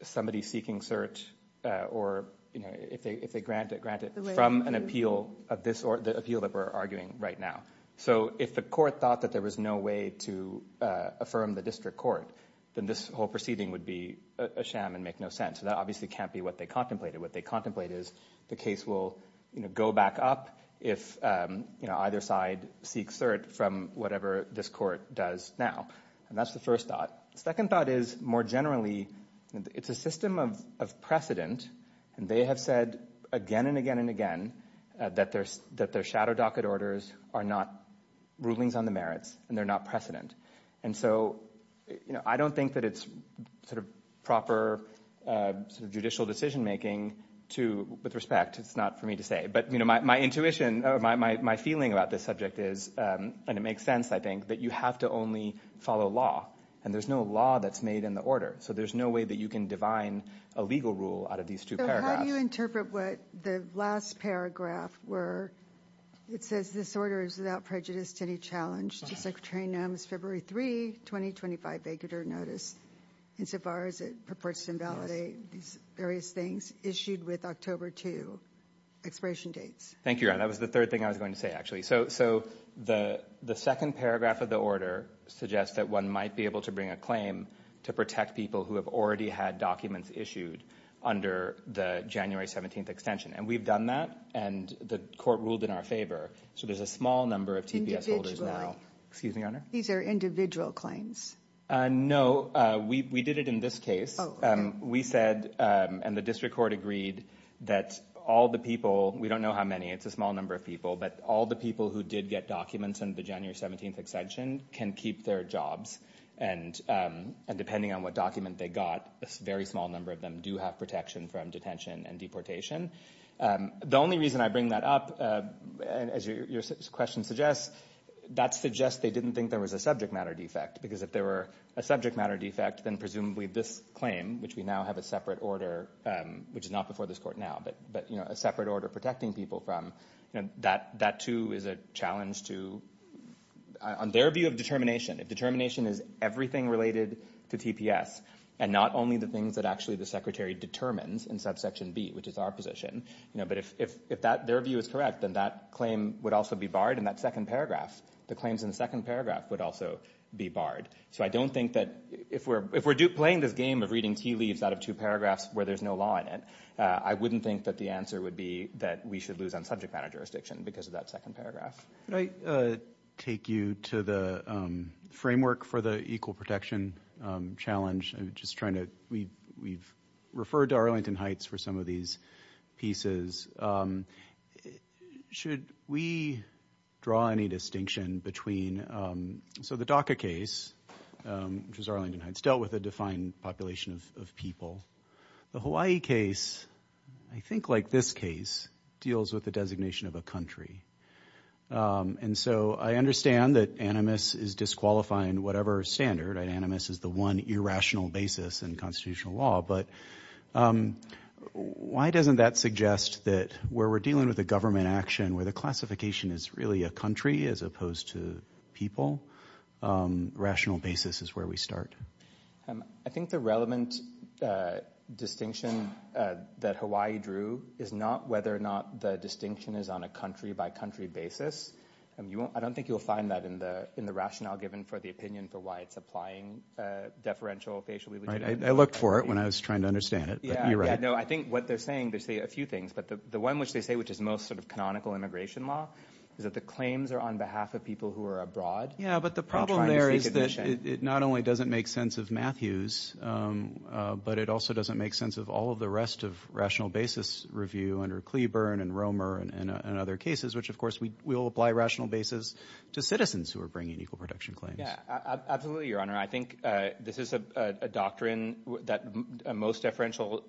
somebody seeking cert, or, you know, if they grant it, grant it from an appeal of this or the appeal that we're arguing right now. So if the court thought that there was no way to affirm the district court, then this whole proceeding would be a sham and make no sense. That obviously can't be what they contemplated. What they contemplate is the case will, you know, go back up if, you know, either side seeks cert from whatever this court does now. And that's the first thought. The second thought is, more generally, it's a system of precedent, and they have said again and again and again that their shadow docket orders are not rulings on the merits, and they're not precedent. And so, you know, I don't think that it's sort of proper sort of judicial decision making to, with respect, it's not for me to say, but, you know, my intuition, or my feeling about this subject is, and it makes sense, I think, that you have to only follow law, and there's no law that's made in the order. So there's no way that you can divine a legal rule out of these two paragraphs. So how do you interpret what the last paragraph were? It says this order is without prejudice to any challenge to Secretary Noem's February 3, 2025, Baker-Durr notice, insofar as it purports to invalidate these various things issued with October 2 expiration dates. Thank you, Ron. That was the third thing I was going to say, actually. So the second paragraph of the order suggests that one might be able to bring a claim to protect people who have already had documents issued under the January 17th extension. And we've that, and the court ruled in our favor. So there's a small number of TPS holders now. Excuse me, Your Honor. These are individual claims. No, we did it in this case. We said, and the district court agreed, that all the people, we don't know how many, it's a small number of people, but all the people who did get documents under the January 17th extension can keep their jobs. And depending on what document they got, a very small number of them have protection from detention and deportation. The only reason I bring that up, as your question suggests, that suggests they didn't think there was a subject matter defect. Because if there were a subject matter defect, then presumably this claim, which we now have a separate order, which is not before this court now, but a separate order protecting people from, that too is a challenge to, on their view of determination, if determination is everything related to TPS, and not only the things that actually the Secretary determines in subsection B, which is our position. But if their view is correct, then that claim would also be barred in that second paragraph. The claims in the second paragraph would also be barred. So I don't think that, if we're playing this game of reading tea leaves out of two paragraphs where there's no law in it, I wouldn't think that the answer would be that we should lose on subject matter jurisdiction because of that second paragraph. Could I take you to the framework for the equal protection challenge? I'm just trying to, we've referred to Arlington Heights for some of these pieces. Should we draw any distinction between, so the DACA case, which is Arlington Heights, dealt with a defined population of people. The Hawaii case, I think like this case, deals with the designation of a country. And so I understand that animus is disqualifying whatever standard, and animus is the one irrational basis in constitutional law, but why doesn't that suggest that where we're dealing with a government action, where the classification is really a country as opposed to people, rational basis is where we start. I think the relevant distinction that Hawaii drew is not whether or not the distinction is on a country-by-country basis. I don't think you'll find that in the rationale given for the opinion for why it's applying deferential facial legitimacy. I looked for it when I was trying to understand it, but you're right. Yeah, no, I think what they're saying, they say a few things, but the one which they say, which is most sort of canonical immigration law, is that the claims are on behalf of people who are abroad. Yeah, but the problem there is that it not only doesn't make sense of Matthews, but it also doesn't make sense of all of the rest of rational basis review under Cleburne and Romer and other cases, which, of course, we will apply rational basis to citizens who are bringing equal protection claims. Yeah, absolutely, Your Honor. I think this is a doctrine that most deferential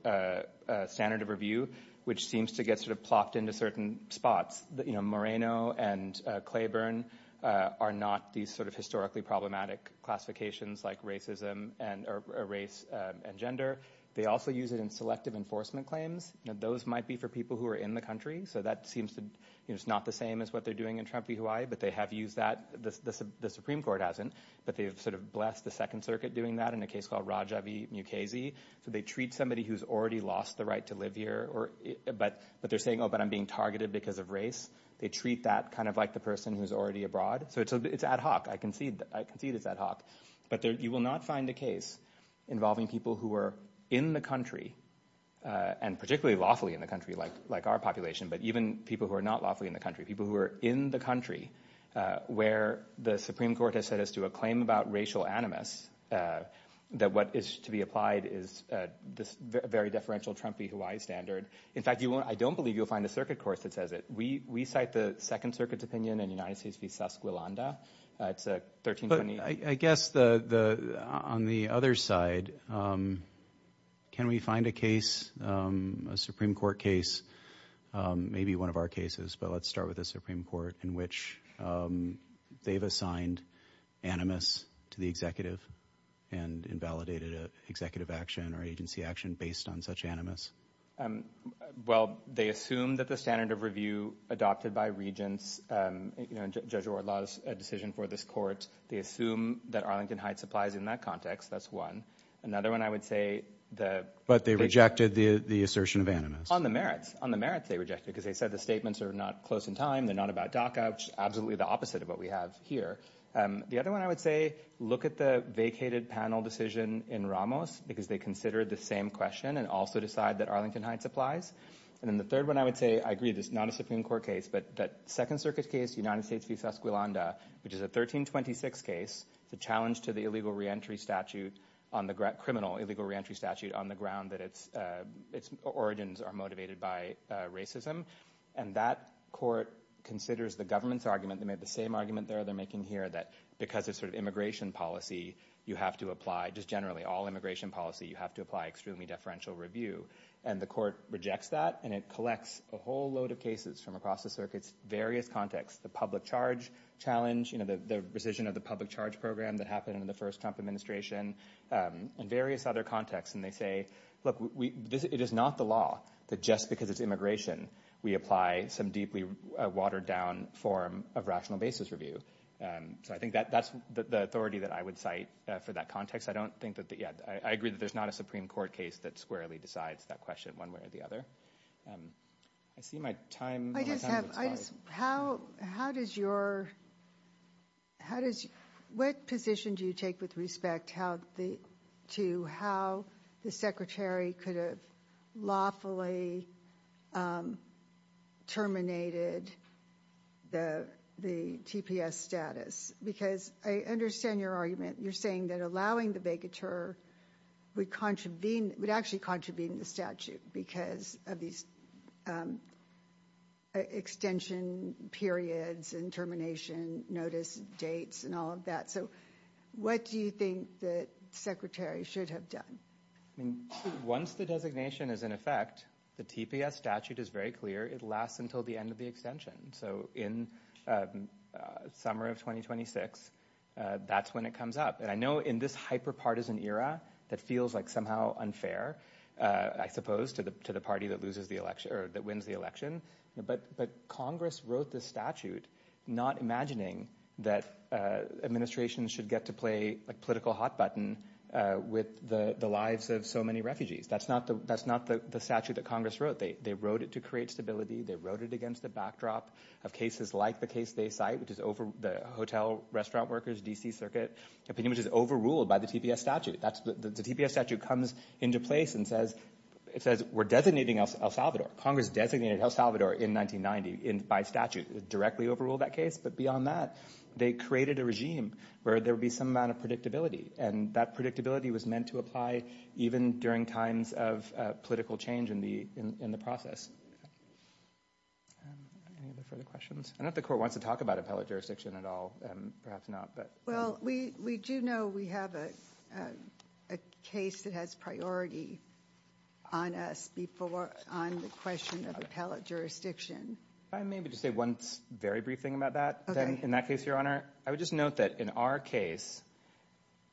standard of review, which seems to get sort of plopped into certain spots, you know, Moreno and Cleburne are not these sort of historically problematic classifications like racism and or race and gender. They also use it in selective enforcement claims. Now, those might be for people who are in the country, so that seems to, you know, it's not the same as what they're doing in Trump v. Hawaii, but they have used that. The Supreme Court hasn't, but they've sort of blessed the Second Circuit doing that in a case called Raja v. Mukasey, so they treat somebody who's already lost the right to live here, but they're saying, oh, but I'm being targeted because of race. They treat that kind of like the person who's already abroad, so it's ad hoc. I will not find a case involving people who are in the country and particularly lawfully in the country like our population, but even people who are not lawfully in the country, people who are in the country where the Supreme Court has set us to a claim about racial animus that what is to be applied is this very deferential Trump v. Hawaii standard. In fact, I don't believe you'll find a circuit course that says it. We cite the Second Circuit's opinion in United States v. Esquilanda. It's a 1320. I guess on the other side, can we find a case, a Supreme Court case, maybe one of our cases, but let's start with the Supreme Court, in which they've assigned animus to the executive and invalidated an executive action or agency action based on such animus? Um, well, they assume that the standard of review adopted by regents, um, you know, Judge Wardlaw's decision for this court, they assume that Arlington Heights applies in that context. That's one. Another one I would say the... But they rejected the assertion of animus. On the merits. On the merits they rejected because they said the statements are not close in time. They're not about DACA, which is absolutely the opposite of what we have here. Um, the other one I would say, look at the vacated panel decision in Ramos because they considered the same question and also decide that Arlington Heights applies. And then the third one I would say, I agree, this is not a Supreme Court case, but that Second Circuit case, United States v. Esquilanda, which is a 1326 case, the challenge to the illegal reentry statute on the criminal illegal reentry statute on the ground that its, uh, its origins are motivated by racism. And that court considers the government's argument. They made the same argument there. They're making here that because it's sort of immigration policy, you have to apply just generally all immigration policy. You have to apply extremely deferential review. And the court rejects that. And it collects a whole load of cases from across the circuits, various contexts, the public charge challenge, you know, the, the rescission of the public charge program that happened in the first Trump administration, um, and various other contexts. And they say, look, we, this, it is not the law that just because it's immigration, we apply some deeply watered down form of rational basis review. Um, so I think that that's the authority that I would cite for that context. I don't think that yet. I agree that there's not a Supreme court case that squarely decides that question one way or the other. Um, I see my time. How, how does your, how does, what position do you take with respect? How the, to how the secretary could have lawfully, um, terminated the, the TPS status, because I understand your argument. You're saying that allowing the vacatur would contravene, would actually contravene the statute because of these, um, extension periods and termination notice dates and all of that. So what do you think that secretary should have done? Once the designation is in effect, the TPS statute is very clear. It lasts until the end of the extension. So in, um, uh, summer of 2026, uh, that's when it comes up. And I know in this hyper-partisan era that feels like somehow unfair, uh, I suppose to the, to the party that loses the election or that wins the election. But, but Congress wrote the statute, not imagining that, uh, administration should get to play like political hot button, uh, with the lives of so many refugees. That's not the, that's not the statute that Congress wrote. They, they wrote it to create stability. They wrote it against the backdrop of cases like the case they cite, which is over the hotel restaurant workers, DC circuit opinion, which is overruled by the TPS statute. That's the, the TPS statute comes into place and says, it says we're designating El Salvador. Congress designated El Salvador in 1990 in by statute directly overruled that case. But beyond that, they created a regime where there would be some amount of predictability. And that predictability was meant to apply even during times of political change in the, in the process. Um, any other further questions? I know the court wants to talk about appellate jurisdiction at all, um, perhaps not, but. Well, we, we do know we have a, uh, a case that has priority on us before, on the question of appellate jurisdiction. I maybe just say one very brief thing about that. Then in that case, Your Honor, I would just note that in our case,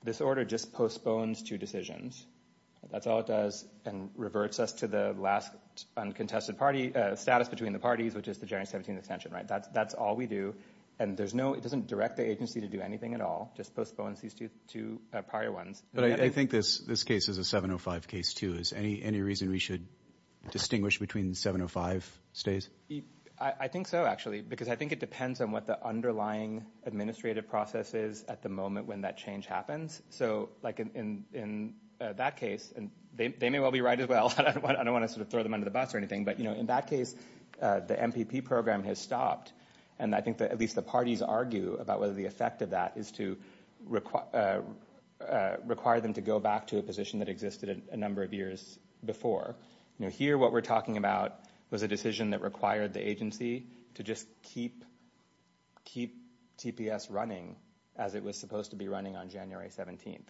this order just postpones two decisions. That's all it does and reverts us to the last uncontested party, uh, status between the parties, which is the January 17th extension, right? That's, that's all we do. And there's no, it doesn't direct the agency to do anything at all, just postpones these two, two prior ones. But I think this, this case is a 705 case too. Is any, any reason we should distinguish between 705 stays? I think so, actually, because I think it depends on what the underlying administrative process is at the moment when that change happens. So like in, in, uh, that case, and they, they may well be right as well. I don't want, I don't want to sort of throw them under the bus or anything, but, you know, in that case, uh, the MPP program has stopped. And I think that at least the parties argue about whether the effect of that is to require, uh, uh, require them to go back to a position that existed a number of years before. You know, here, what we're talking about was a decision that required the agency to just keep, keep TPS running as it was supposed to be running on January 17th.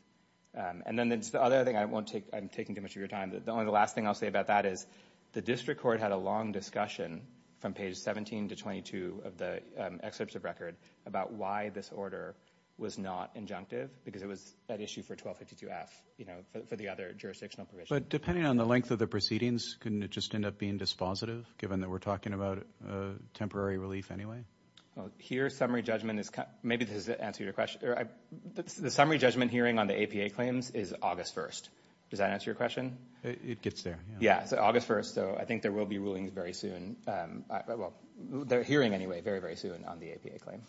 And then it's the other thing I won't take, I'm taking too much of your time. The only, the last thing I'll say about that is the district court had a long discussion from page 17 to 22 of the excerpts of record about why this order was not injunctive because it was an issue for 1252F, you know, for the other jurisdictional provisions. But depending on the length of the proceedings, couldn't it just end up being dispositive given that we're talking about, uh, temporary relief anyway? Well, here's summary judgment is, maybe this answer your question, or I, the summary judgment hearing on the APA claims is August 1st. Does that answer your question? It gets there. Yeah. So August 1st. So I think there will be rulings very soon. Um, well, they're hearing anyway, very, very soon on the APA claim.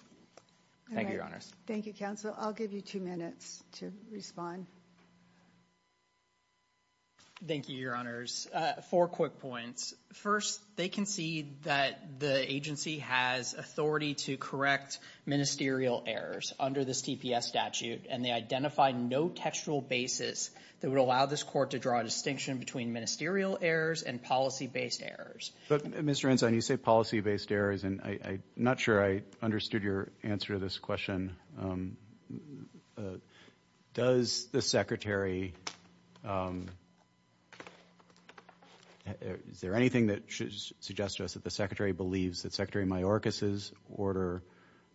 Thank you, your honors. Thank you, counsel. I'll give you two minutes to respond. Thank you, your honors. Uh, four quick points. First, they concede that the agency has authority to correct ministerial errors under this TPS statute, and they identified no textual basis that would allow this court to draw a distinction between ministerial errors and policy-based errors. But Mr. Ensign, you say policy-based errors, and I'm not sure I understood your answer to this question. Um, uh, does the secretary, um, is there anything that should suggest to us that the secretary believes that Secretary Mayorkas's order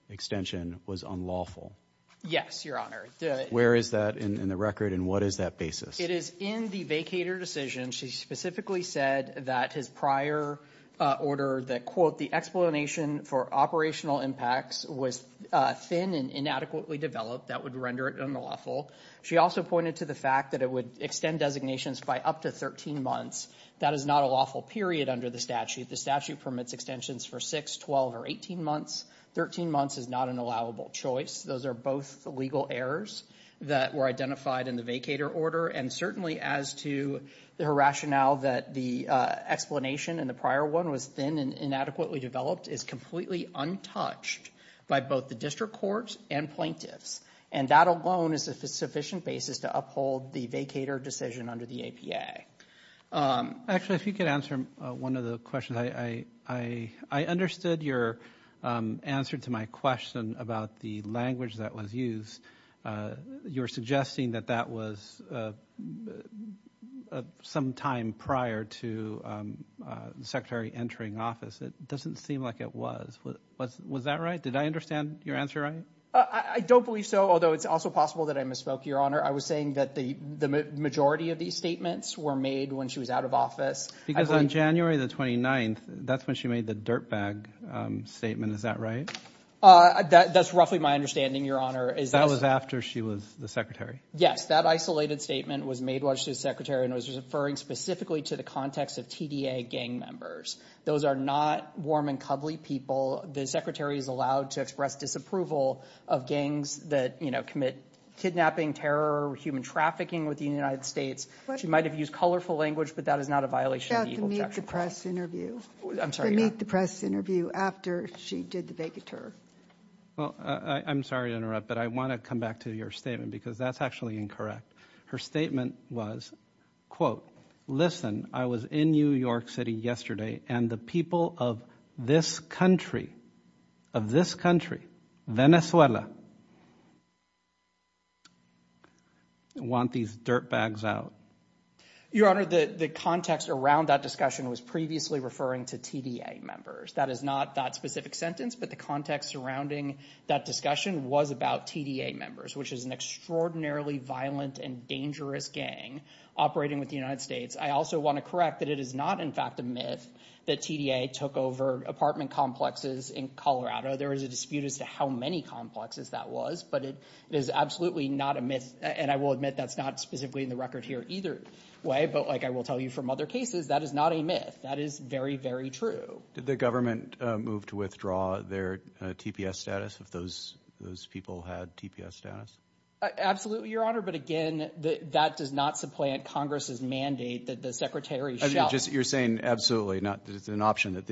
extension was unlawful? Yes, your honor. Where is that in the record and what is that basis? It is in the vacator decision. She specifically said that his prior, uh, order that, quote, the explanation for operational impacts was, uh, thin and inadequately developed, that would render it unlawful. She also pointed to the fact that it would extend designations by up to 13 months. That is not a lawful period under the statute. The statute permits extensions for 6, 12, or 18 months. 13 months is not an allowable choice. Those are both legal errors that were identified in the vacator order, and certainly as to her rationale that the, uh, explanation in the inadequately developed is completely untouched by both the district courts and plaintiffs, and that alone is a sufficient basis to uphold the vacator decision under the APA. Um, actually, if you could answer one of the questions. I, I, I, I understood your, um, answer to my question about the language that was used. Uh, you're suggesting that that was, uh, uh, uh, some time prior to, um, uh, the secretary entering office. It doesn't seem like it was. Was, was that right? Did I understand your answer right? Uh, I, I don't believe so, although it's also possible that I misspoke, Your Honor. I was saying that the, the majority of these statements were made when she was out of office. Because on January the 29th, that's when she made the dirtbag, um, statement. Is that right? Uh, that, that's roughly my understanding, Your Honor, is that... That was after she was the secretary. Yes, that isolated statement was made while she was secretary and was referring specifically to the context of TDA gang members. Those are not warm and cuddly people. The secretary is allowed to express disapproval of gangs that, you know, commit kidnapping, terror, human trafficking within the United States. She might have used colorful language, but that is not a violation of the Eagle Jackson Act. To meet the press interview. I'm sorry, Your Honor. To meet the press interview, but I want to come back to your statement because that's actually incorrect. Her statement was, quote, listen, I was in New York City yesterday and the people of this country, of this country, Venezuela, want these dirtbags out. Your Honor, the, the context around that discussion was previously referring to TDA members. That is not that specific sentence, but the context surrounding that discussion was about TDA members, which is an extraordinarily violent and dangerous gang operating with the United States. I also want to correct that it is not in fact a myth that TDA took over apartment complexes in Colorado. There is a dispute as to how many complexes that was, but it is absolutely not a myth. And I will admit that's not specifically in the record here either way, but like I will tell you from other cases, that is not a myth. That is very, very true. Did the government move to withdraw their TPS status if those, those people had TPS status? Absolutely, Your Honor. But again, that does not supplant Congress's mandate that the Secretary should. You're saying absolutely not. It's an option that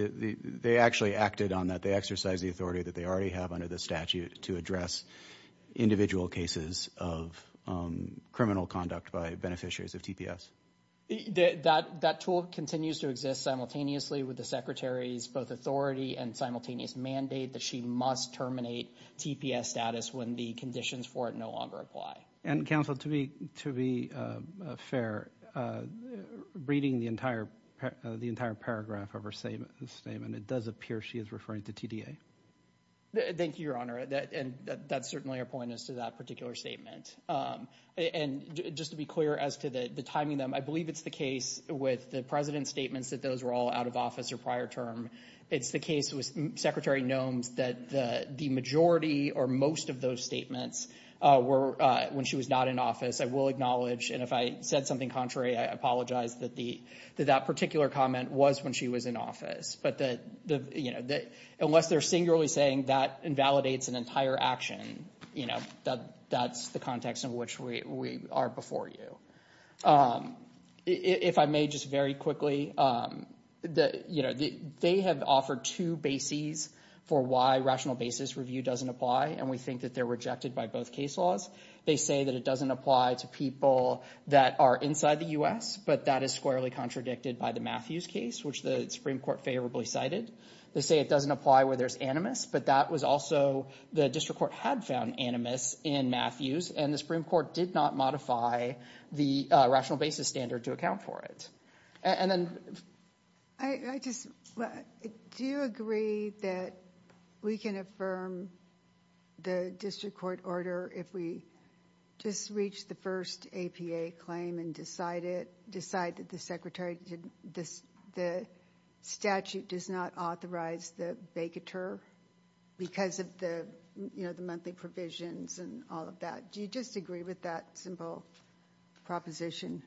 they actually acted on that. They exercise the authority that they already have under the statute to address individual cases of criminal conduct by beneficiaries of TPS. That tool continues to exist simultaneously with the Secretary's both authority and simultaneous mandate that she must terminate TPS status when the conditions for it no longer apply. And Counsel, to be fair, reading the entire paragraph of her statement, it does appear she is referring to TDA. Thank you, Your Honor. And that's certainly a point as to that particular statement. And just to be clear as to the timing, I believe it's the case with the President's statements that those were all out of office or prior term. It's the case with Secretary Nome's that the majority or most of those statements were when she was not in office, I will acknowledge. And if I said something contrary, I apologize that that particular comment was when she was in office. But the, you know, unless they're singularly saying that invalidates an entire action, you know, that's the context in which we are before you. If I may just very quickly, you know, they have offered two bases for why rational basis review doesn't apply. And we think that they're rejected by both case laws. They say that it doesn't apply to people that are inside the U.S., but that is squarely contradicted by the Matthews case, which the Supreme Court favorably cited. They say it doesn't apply where there's animus, but that was also, the district court had found animus in Matthews, and the Supreme Court did not modify the rational basis standard to account for it. And then I just, do you agree that we can affirm the district court order if we just reach the first APA claim and decide that the statute does not authorize the vacatur because of the, you know, the monthly provisions and all of that? Do you just agree with that simple proposition?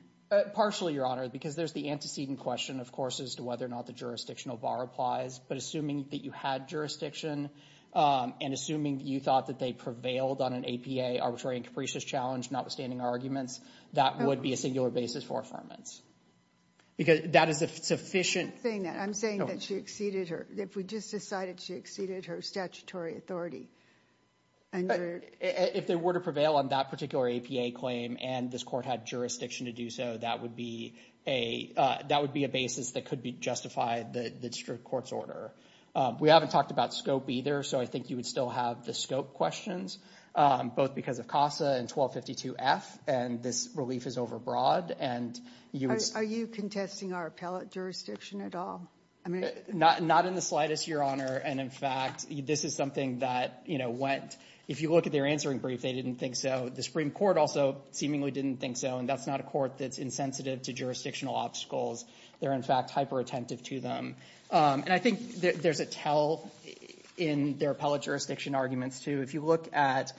Partially, Your Honor, because there's the antecedent question, of course, as to whether or not the jurisdictional bar applies. But assuming that you had jurisdiction and assuming you thought that they prevailed on an APA arbitrary and capricious challenge, notwithstanding our arguments, that would be a singular basis for affirmance. Because that is a sufficient... I'm saying that she exceeded her, if we just decided she exceeded her statutory authority. If they were to prevail on that particular APA claim and this court had jurisdiction to do so, that would be a basis that could justify the district court's order. We haven't talked about scope either, so I think you would still have the scope questions, both because of CASA and 1252F, and this relief is overbroad. Are you contesting our appellate jurisdiction at all? Not in the slightest, Your Honor. And in fact, this is something that, you know, if you look at their answering brief, they didn't think so. The Supreme Court also seemingly didn't think so. And that's not a court that's insensitive to jurisdictional obstacles. They're, in fact, hyper-attentive to them. And I think there's a tell in their appellate jurisdiction arguments too. If you look at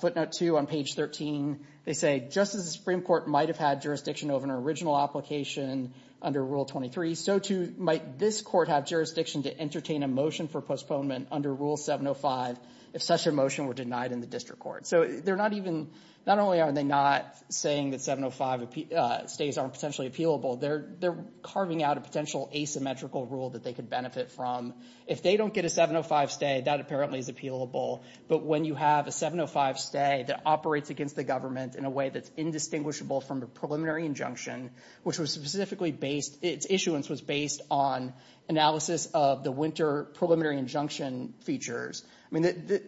footnote two on page 13, they say, just as the Supreme Court might have had jurisdiction over an original application under Rule 23, so too might this court have jurisdiction to entertain a motion for postponement under Rule 705 if such a motion were denied in the district court. So they're not even... Not only are they not saying that 705 stays aren't potentially appealable, they're carving out a potential asymmetrical rule that they could benefit from. If they don't get a 705 stay, that apparently is appealable. But when you have a 705 stay that operates against the government in a way that's indistinguishable from a preliminary injunction, which was specifically based... Its issuance was based on analysis of the winter preliminary injunction features. I mean,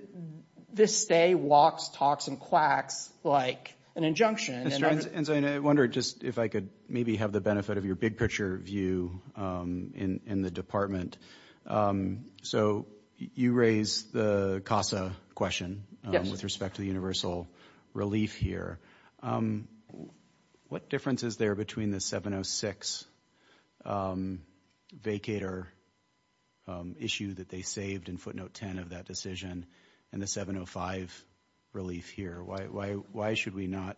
this stay walks, talks, and quacks like an injunction. Mr. Ensign, I wonder just if I could maybe have the benefit of your big picture view in the department. So you raised the CASA question with respect to the universal relief here. What difference is there between the 706 vacator issue that they saved in footnote 10 of that decision and the 705 relief here? Why should we not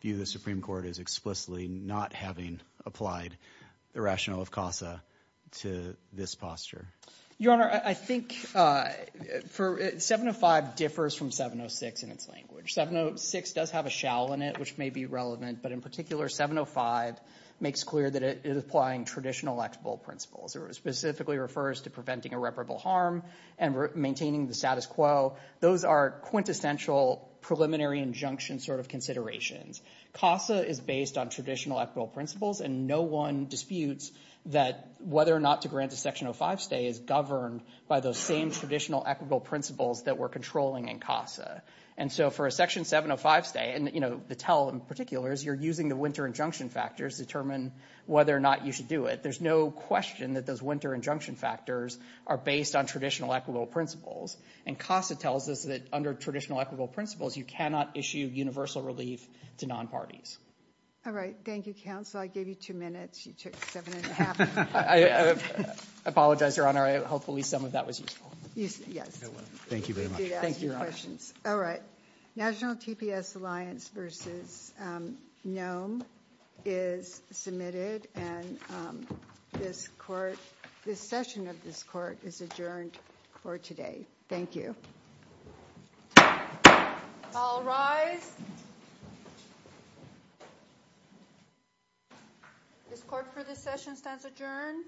view the Supreme Court as explicitly not having applied the rationale of CASA to this posture? Your Honor, I think 705 differs from 706 in its language. 706 does have a shell in it, which may be relevant. But in particular, 705 makes clear that it is applying traditional principles. It specifically refers to preventing irreparable harm and maintaining the status quo. Those are quintessential preliminary injunction sort of considerations. CASA is based on traditional equitable principles, and no one disputes that whether or not to grant a Section 05 stay is governed by those same traditional equitable principles that we're controlling in CASA. And so for a Section 705 stay, and the tell in particular is you're using the winter injunction factors to determine whether or not you should do it. There's no question that those winter injunction factors are based on traditional equitable principles. And CASA tells us that under traditional equitable principles, you cannot issue universal relief to non-parties. All right. Thank you, counsel. I gave you two minutes. You took seven and a half. I apologize, Your Honor. Hopefully some of that was useful. Yes. Thank you very much. Thank you, Your Honor. All right. National TPS Alliance versus Nome is submitted, and this session of this court is adjourned for today. Thank you. All rise. This court for this session stands adjourned.